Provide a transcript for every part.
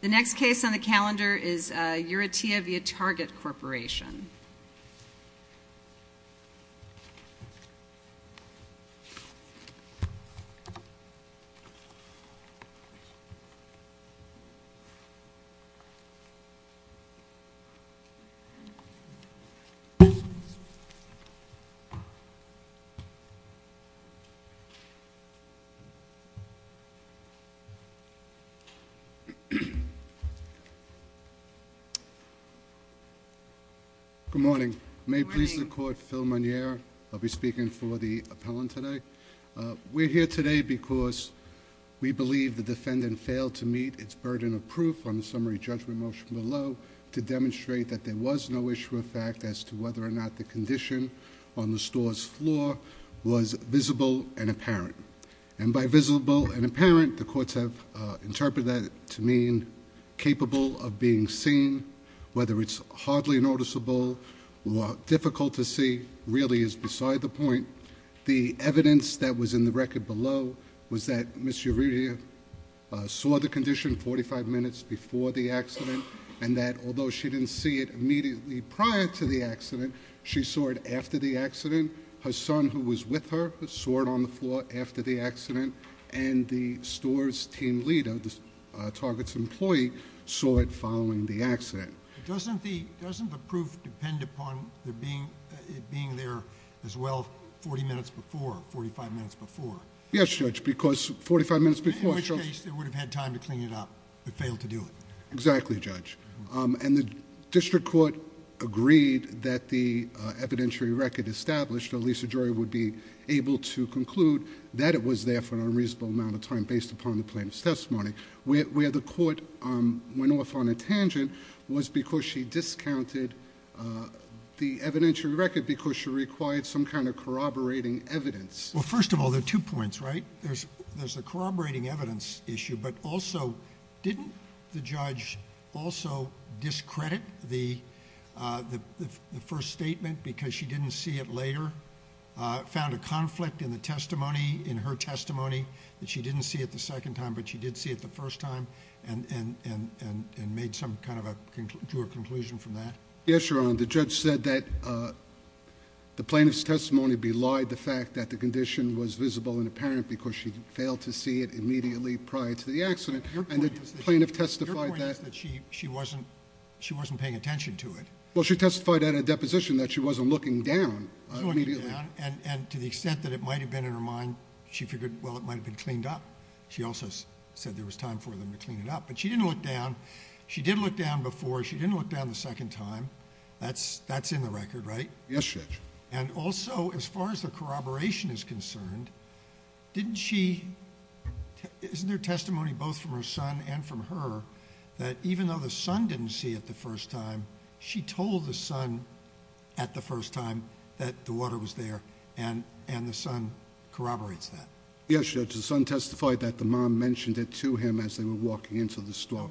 The next case on the calendar is Urrutia v. Target Corporation. Good morning. May it please the Court, Phil Monnier. I'll be speaking for the appellant today. We're here today because we believe the defendant failed to meet its burden of proof on the summary judgment motion below to demonstrate that there was no issue of fact as to whether or not the condition on the store's floor was visible and apparent. And by visible and apparent, the courts have interpreted that to mean capable of being seen. Whether it's hardly noticeable or difficult to see really is beside the point. The evidence that was in the record below was that Ms. Urrutia saw the condition 45 minutes before the accident and that although she didn't see it immediately prior to the accident, she saw it after the accident. Her son who was with her saw it on the floor after the accident and the store's team leader, Target's employee, saw it following the accident. Doesn't the proof depend upon it being there as well 40 minutes before, 45 minutes before? Yes, Judge, because 45 minutes before... In which case they would have had time to clean it up but failed to do it. Exactly, Judge. And the district court agreed that the evidentiary record established, or Lisa Joy would be able to conclude, that it was there for an unreasonable amount of time based upon the plaintiff's testimony. Where the court went off on a tangent was because she discounted the evidentiary record because she required some kind of corroborating evidence. Well, first of all, there are two points, right? There's the corroborating evidence issue but also didn't the judge also discredit the first statement because she didn't see it later, found a conflict in her testimony that she didn't see it the second time but she did see it the first time and drew a conclusion from that? Yes, Your Honor, the judge said that the plaintiff's testimony belied the fact that the condition was visible and apparent because she failed to see it immediately prior to the accident and the plaintiff testified that... Your point is that she wasn't paying attention to it. Well, she testified at a deposition that she wasn't looking down immediately. She wasn't looking down and to the extent that it might have been in her mind, she figured, well, it might have been cleaned up. She also said there was time for them to clean it up but she didn't look down. She did look down before, she didn't look down the second time. That's in the record, right? Yes, Judge. And also as far as the corroboration is concerned, didn't she... Isn't there testimony both from her son and from her that even though the son didn't see it the first time, she told the son at the first time that the water was there and the son corroborates that? Yes, Judge. The son testified that the mom mentioned it to him as they were walking into the store.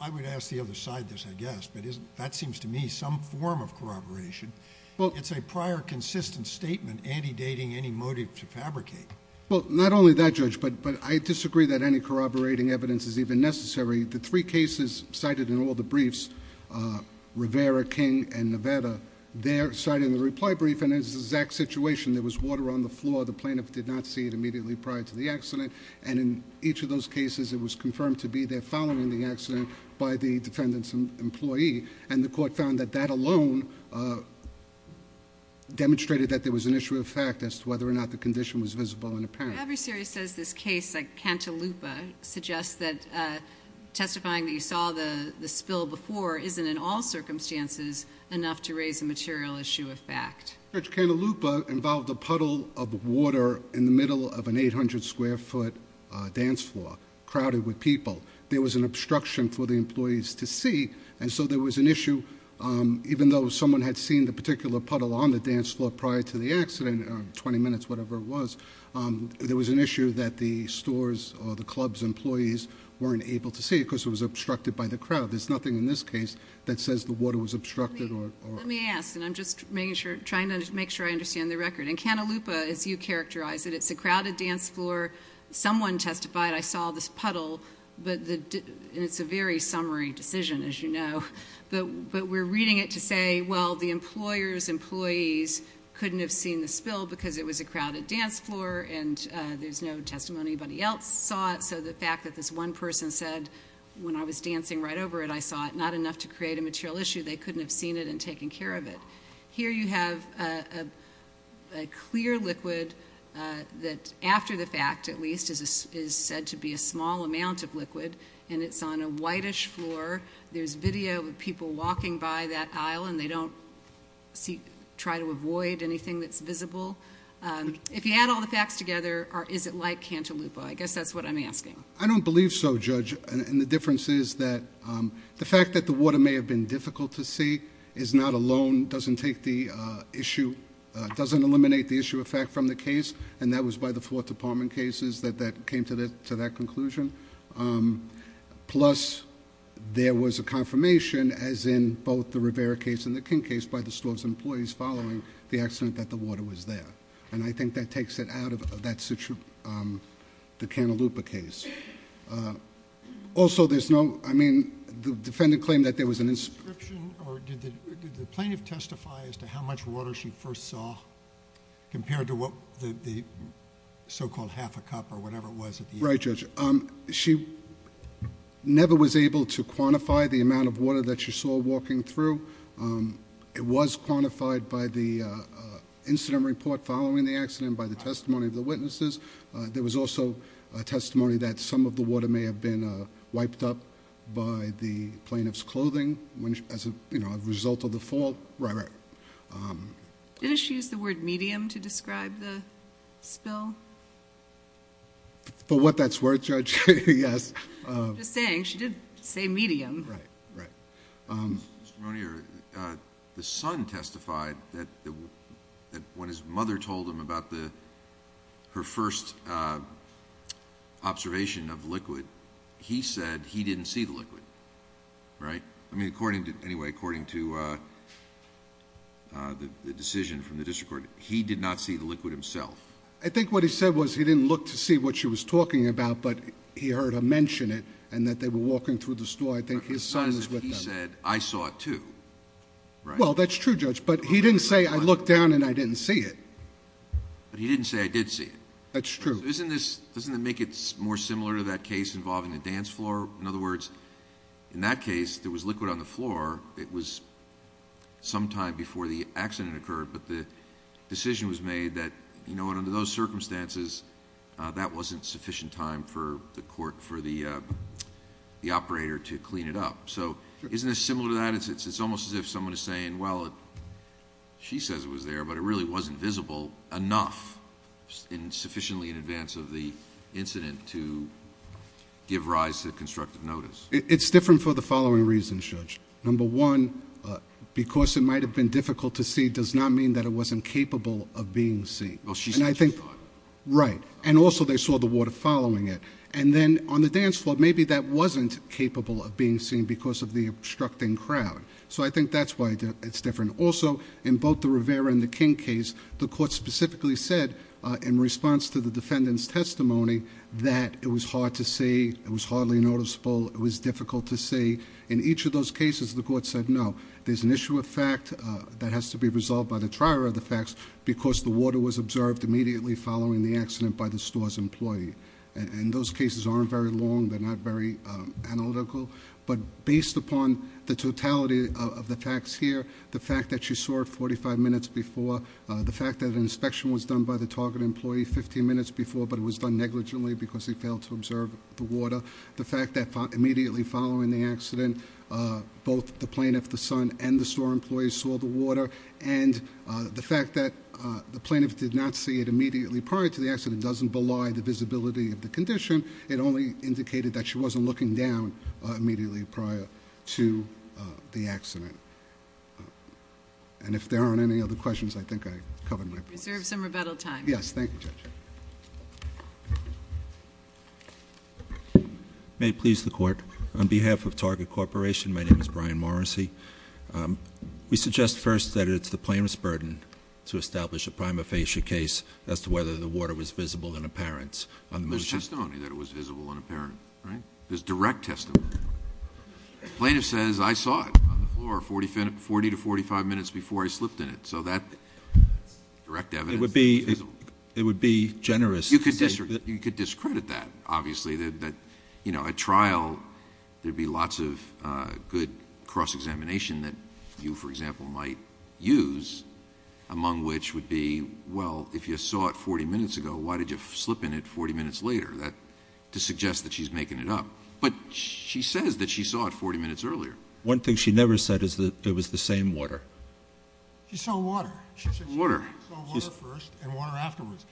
I would ask the other side this, I guess, but that seems to me some form of corroboration. It's a prior consistent statement anti-dating any motive to fabricate. Well, not only that, Judge, but I disagree that any corroborating evidence is even necessary. The three cases cited in all the briefs, Rivera, King, and Nevada, they're cited in the reply brief and it's the exact situation. There was water on the floor. The plaintiff did not see it immediately prior to the accident and in each of those cases it was confirmed to be there following the accident by the defendant's employee and the court found that that alone demonstrated that there was an issue of fact as to whether or not the condition was visible and apparent. Every series says this case like Cantaloupa suggests that testifying that you saw the spill before isn't in all circumstances enough to raise a material issue of fact. Judge, Cantaloupa involved a puddle of water in the middle of an 800 square foot dance floor crowded with people. There was an obstruction for the employees to see and so there was an issue, even though someone had seen the particular puddle on the dance floor prior to the accident, 20 minutes, whatever it was, there was an issue that the stores or the club's employees weren't able to see because it was obstructed by the crowd. There's nothing in this case that says the water was obstructed. Let me ask and I'm just trying to make sure I understand the record. In Cantaloupa, as you characterized it, it's a crowded dance floor. Someone testified, I saw this puddle, and it's a very summary decision, as you know, but we're reading it to say, well, the employer's employees couldn't have seen the spill because it was a crowded dance floor and there's no testimony anybody else saw it, so the fact that this one person said, when I was dancing right over it, I saw it, not enough to create a material issue. They couldn't have seen it and taken care of it. Here you have a clear liquid that after the fact, at least, is said to be a small amount of liquid, and it's on a whitish floor. There's video of people walking by that aisle, and they don't try to avoid anything that's visible. If you add all the facts together, is it like Cantaloupa? I guess that's what I'm asking. I don't believe so, Judge. The difference is that the fact that the water may have been difficult to see is not alone, doesn't eliminate the issue of fact from the case, and that was by the four department cases that came to that conclusion. Plus, there was a confirmation, as in both the Rivera case and the King case, by the store's employees following the accident that the water was there, and I think that takes it out of the Cantaloupa case. Also, the defendant claimed that there was an inscription. Did the plaintiff testify as to how much water she first saw compared to the so-called half a cup or whatever it was? Right, Judge. She never was able to quantify the amount of water that she saw walking through. It was quantified by the incident report following the accident, by the testimony of the witnesses. There was also testimony that some of the water may have been wiped up by the plaintiff's clothing as a result of the fall. Right, right. Did she use the word medium to describe the spill? For what that's worth, Judge, yes. I'm just saying, she did say medium. Right, right. Mr. Monier, the son testified that when his mother told him about her first observation of liquid, he said he didn't see the liquid, right? I mean, according to... anyway, according to the decision from the district court, he did not see the liquid himself. I think what he said was he didn't look to see what she was talking about, but he heard her mention it, and that they were walking through the store. I think his son is with them. He said, I saw it too, right? Well, that's true, Judge, but he didn't say, I looked down and I didn't see it. But he didn't say, I did see it. That's true. Doesn't that make it more similar to that case involving the dance floor? In other words, in that case, there was liquid on the floor. It was sometime before the accident occurred, but the decision was made that, you know, under those circumstances, that wasn't sufficient time for the court, for the operator to clean it up. So isn't this similar to that? It's almost as if someone is saying, well, she says it was there, but it really wasn't visible enough sufficiently in advance of the incident to give rise to constructive notice. It's different for the following reasons, Judge. Number one, because it might have been difficult to see does not mean that it wasn't capable of being seen. Well, she said she saw it. Right. And also they saw the water following it. And then on the dance floor, maybe that wasn't capable of being seen because of the obstructing crowd. So I think that's why it's different. Also, in both the Rivera and the King case, the court specifically said in response to the defendant's testimony that it was hard to see, it was hardly noticeable, it was difficult to see. In each of those cases, the court said no. There's an issue of fact that has to be resolved by the trier of the facts because the water was observed immediately following the accident by the store's employee. And those cases aren't very long. They're not very analytical. But based upon the totality of the facts here, the fact that she saw it 45 minutes before, the fact that an inspection was done by the target employee 15 minutes before, but it was done negligently because he failed to observe the water, the fact that immediately following the accident, both the plaintiff, the son, and the store employee saw the water, and the fact that the plaintiff did not see it immediately prior to the accident doesn't belie the visibility of the condition. It only indicated that she wasn't looking down immediately prior to the accident. And if there aren't any other questions, I think I covered my place. Reserve some rebuttal time. Yes, thank you, Judge. May it please the court. On behalf of Target Corporation, my name is Brian Morrissey. We suggest first that it's the plaintiff's burden to establish a prima facie case as to whether the water was visible and apparent on the motion. There's testimony that it was visible and apparent, right? There's direct testimony. The plaintiff says, I saw it on the floor 40 to 45 minutes before I slipped in it. So that direct evidence is visible. It would be generous. You could discredit that, obviously. At trial, there'd be lots of good cross-examination that you, for example, might use, among which would be, well, if you saw it 40 minutes ago, why did you slip in it 40 minutes later, to suggest that she's making it up. But she says that she saw it 40 minutes earlier. One thing she never said is that it was the same water. She saw water. She said she saw water first and water afterwards.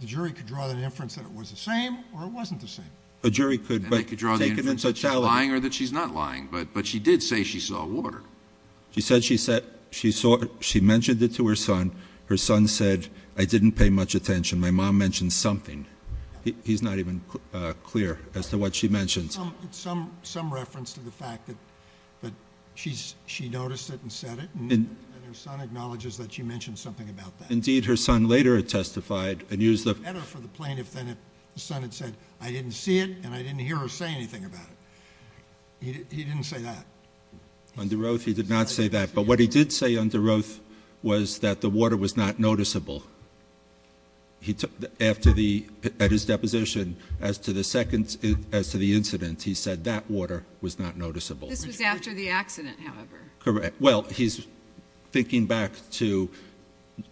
The jury could draw the inference that it was the same or it wasn't the same. A jury could. And they could draw the inference that she's lying or that she's not lying. But she did say she saw water. She said she mentioned it to her son. Her son said, I didn't pay much attention. My mom mentioned something. He's not even clear as to what she mentioned. Some reference to the fact that she noticed it and said it, and her son acknowledges that she mentioned something about that. Indeed, her son later testified and used the ---- It would have been better for the plaintiff then if the son had said, I didn't see it and I didn't hear her say anything about it. He didn't say that. Under oath, he did not say that. But what he did say under oath was that the water was not noticeable. At his deposition, as to the incident, he said that water was not noticeable. This was after the accident, however. Correct. Well, he's thinking back to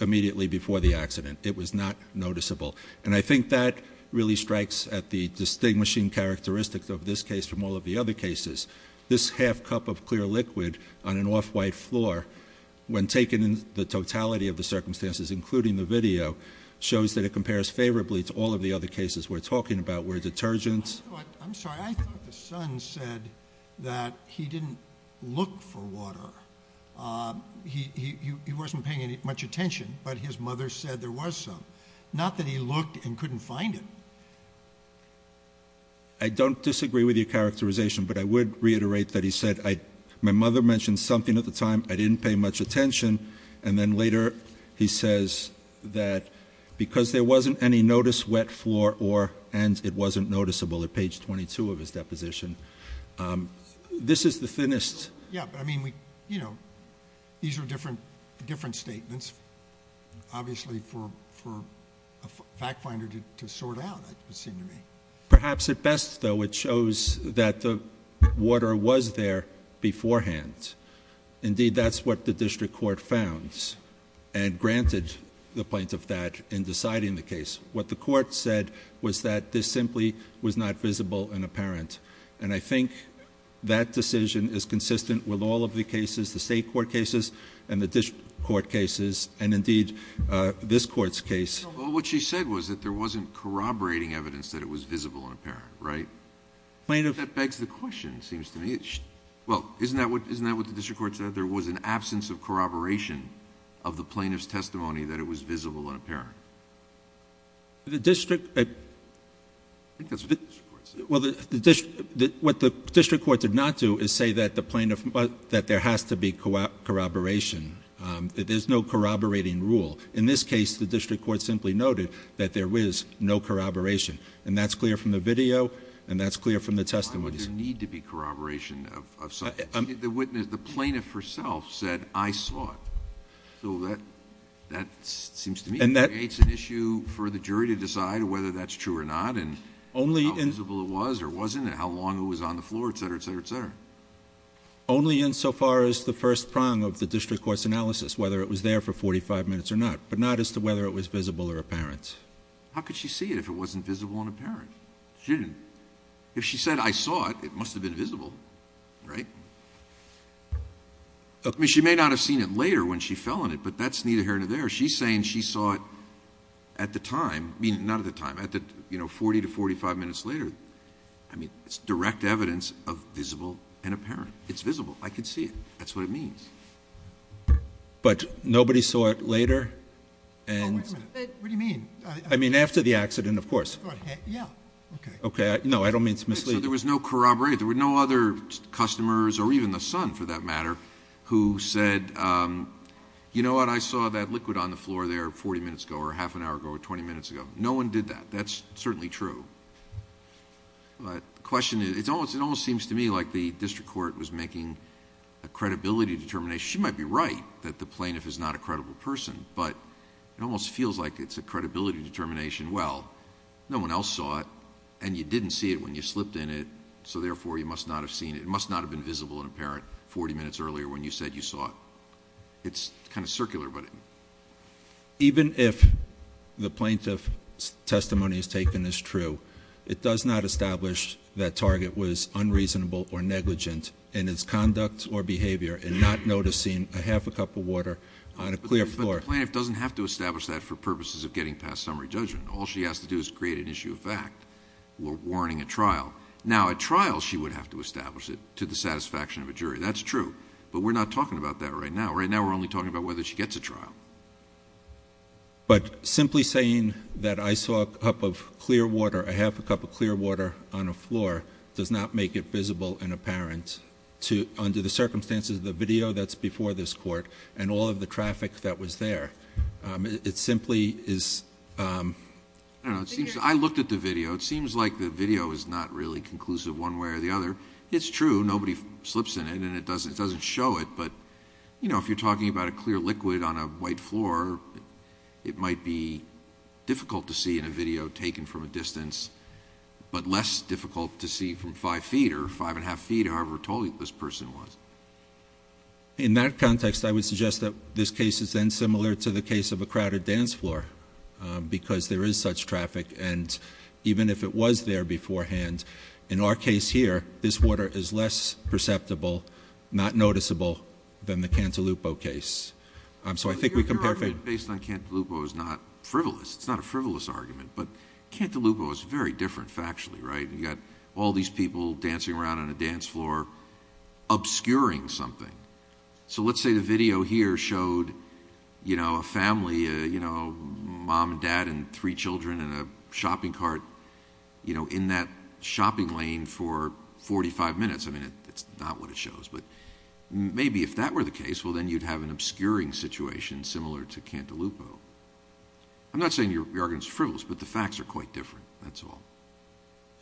immediately before the accident. It was not noticeable. And I think that really strikes at the distinguishing characteristics of this case from all of the other cases. This half cup of clear liquid on an off-white floor, when taken in the totality of the circumstances, including the video, shows that it compares favorably to all of the other cases we're talking about where detergents ---- He wasn't paying much attention. But his mother said there was some. Not that he looked and couldn't find it. I don't disagree with your characterization. But I would reiterate that he said, my mother mentioned something at the time I didn't pay much attention. And then later he says that because there wasn't any notice wet floor or and it wasn't noticeable at page 22 of his deposition. This is the thinnest. Yeah, but I mean, you know, these are different statements. Obviously, for a fact finder to sort out, it would seem to me. Perhaps at best, though, it shows that the water was there beforehand. Indeed, that's what the district court found and granted the point of that in deciding the case. What the court said was that this simply was not visible and apparent. And I think that decision is consistent with all of the cases, the state court cases and the district court cases, and indeed this court's case. Well, what she said was that there wasn't corroborating evidence that it was visible and apparent, right? Plaintiff ---- That begs the question, it seems to me. Well, isn't that what the district court said? There was an absence of corroboration of the plaintiff's testimony that it was visible and apparent. The district ---- I think that's what the district court said. Well, what the district court did not do is say that the plaintiff ---- that there has to be corroboration, that there's no corroborating rule. In this case, the district court simply noted that there is no corroboration. And that's clear from the video and that's clear from the testimony. Why would there need to be corroboration of something? The plaintiff herself said, I saw it. So that seems to me creates an issue for the jury to decide whether that's true or not and how visible it was or wasn't and how long it was on the floor, et cetera, et cetera, et cetera. Only insofar as the first prong of the district court's analysis, whether it was there for 45 minutes or not, but not as to whether it was visible or apparent. How could she see it if it wasn't visible and apparent? She didn't. If she said, I saw it, it must have been visible, right? I mean, she may not have seen it later when she fell in it, but that's neither here nor there. She's saying she saw it at the time, I mean, not at the time, 40 to 45 minutes later. I mean, it's direct evidence of visible and apparent. It's visible. I can see it. That's what it means. But nobody saw it later? What do you mean? I mean, after the accident, of course. Yeah. Okay. No, I don't mean it's misleading. There was no corroboration. There were no other customers or even the son, for that matter, who said, you know what, I saw that liquid on the floor there 40 minutes ago or half an hour ago or 20 minutes ago. No one did that. That's certainly true. The question is, it almost seems to me like the district court was making a credibility determination. She might be right that the plaintiff is not a credible person, but it almost feels like it's a credibility determination. Well, no one else saw it, and you didn't see it when you slipped in it, so therefore you must not have seen it. It's kind of circular. Even if the plaintiff's testimony is taken as true, it does not establish that target was unreasonable or negligent in its conduct or behavior and not noticing a half a cup of water on a clear floor. But the plaintiff doesn't have to establish that for purposes of getting past summary judgment. All she has to do is create an issue of fact or warning a trial. Now, at trial she would have to establish it to the satisfaction of a jury. That's true. But we're not talking about that right now. Right now we're only talking about whether she gets a trial. But simply saying that I saw a cup of clear water, a half a cup of clear water on a floor, does not make it visible and apparent under the circumstances of the video that's before this court and all of the traffic that was there. It simply is... I looked at the video. It seems like the video is not really conclusive one way or the other. It's true. Nobody slips in it and it doesn't show it. But if you're talking about a clear liquid on a white floor, it might be difficult to see in a video taken from a distance, but less difficult to see from five feet or five and a half feet, however tall this person was. In that context, I would suggest that this case is then similar to the case of a crowded dance floor because there is such traffic, and even if it was there beforehand, in our case here, this water is less perceptible, not noticeable, than the Cantalupo case. So I think we compare... Your argument based on Cantalupo is not frivolous. It's not a frivolous argument. But Cantalupo is very different factually, right? You've got all these people dancing around on a dance floor obscuring something. So let's say the video here showed a family, a mom and dad and three children in a shopping cart in that shopping lane for 45 minutes. I mean, it's not what it shows. But maybe if that were the case, well, then you'd have an obscuring situation similar to Cantalupo. I'm not saying your argument is frivolous, but the facts are quite different, that's all.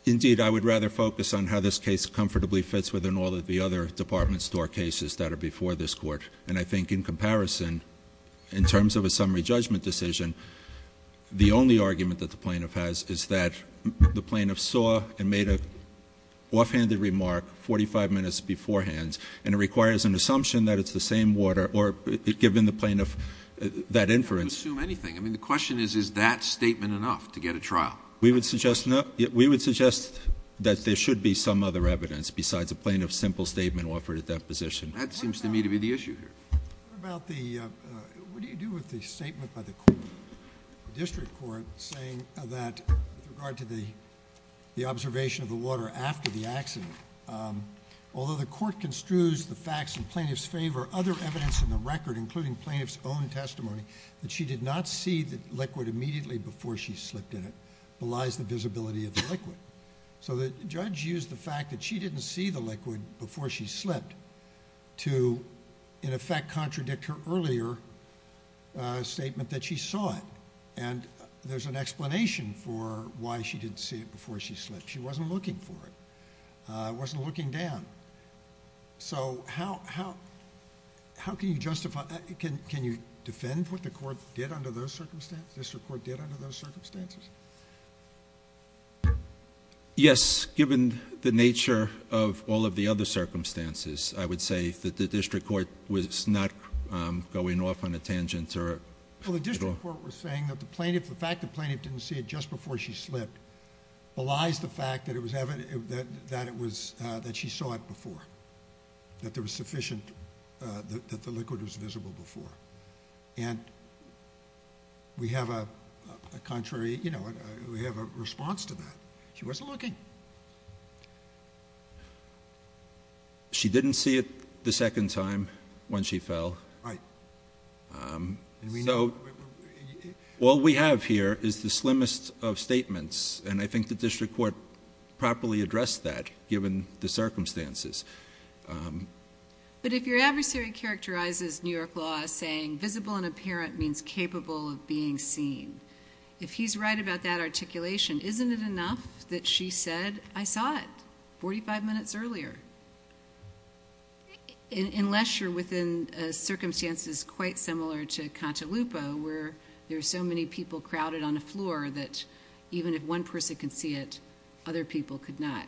Indeed, I would rather focus on how this case comfortably fits with all of the other department store cases that are before this Court. And I think in comparison, in terms of a summary judgment decision, the only argument that the plaintiff has is that the plaintiff saw and made an offhanded remark 45 minutes beforehand, and it requires an assumption that it's the same water, or given the plaintiff that inference. You can assume anything. I mean, the question is, is that statement enough to get a trial? We would suggest that there should be some other evidence besides a plaintiff's simple statement offered at that position. That seems to me to be the issue here. What about the... what do you do with the statement by the district court saying that, with regard to the observation of the water after the accident, although the court construes the facts in plaintiff's favor, other evidence in the record, including plaintiff's own testimony, that she did not see the liquid immediately before she slipped in it belies the visibility of the liquid. So the judge used the fact that she didn't see the liquid before she slipped to, in effect, contradict her earlier statement that she saw it. And there's an explanation for why she didn't see it before she slipped. She wasn't looking for it. It wasn't looking down. So how can you justify... can you defend what the court did under those circumstances, Yes, given the nature of all of the other circumstances, I would say that the district court was not going off on a tangent or... Well, the district court was saying that the fact the plaintiff didn't see it just before she slipped belies the fact that it was evident that she saw it before, that there was sufficient... that the liquid was visible before. And we have a contrary... you know, we have a response to that. She wasn't looking. She didn't see it the second time when she fell. Right. And we know... All we have here is the slimmest of statements, and I think the district court properly addressed that given the circumstances. But if your adversary characterizes New York law as saying visible and apparent means capable of being seen, if he's right about that articulation, isn't it enough that she said, I saw it 45 minutes earlier? Unless you're within circumstances quite similar to Contalupo, where there are so many people crowded on the floor that even if one person could see it, other people could not.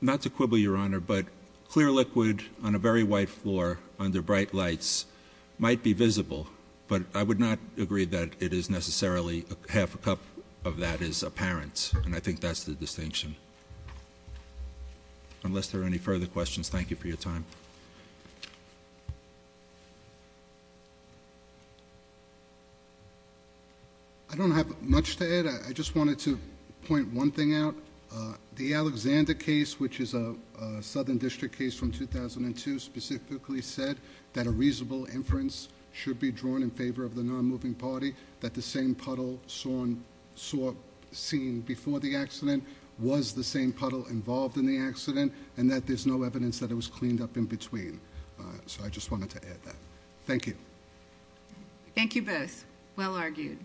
Not to quibble, Your Honor, but clear liquid on a very white floor under bright lights might be visible, but I would not agree that it is necessarily half a cup of that is apparent, and I think that's the distinction. Unless there are any further questions, thank you for your time. I don't have much to add. I just wanted to point one thing out. The Alexander case, which is a southern district case from 2002, specifically said that a reasonable inference should be drawn in favor of the non-moving party, that the same puddle seen before the accident was the same puddle involved in the accident, and that there's no evidence that it was cleaned up in between. So I just wanted to add that. Thank you. Thank you both. Well argued.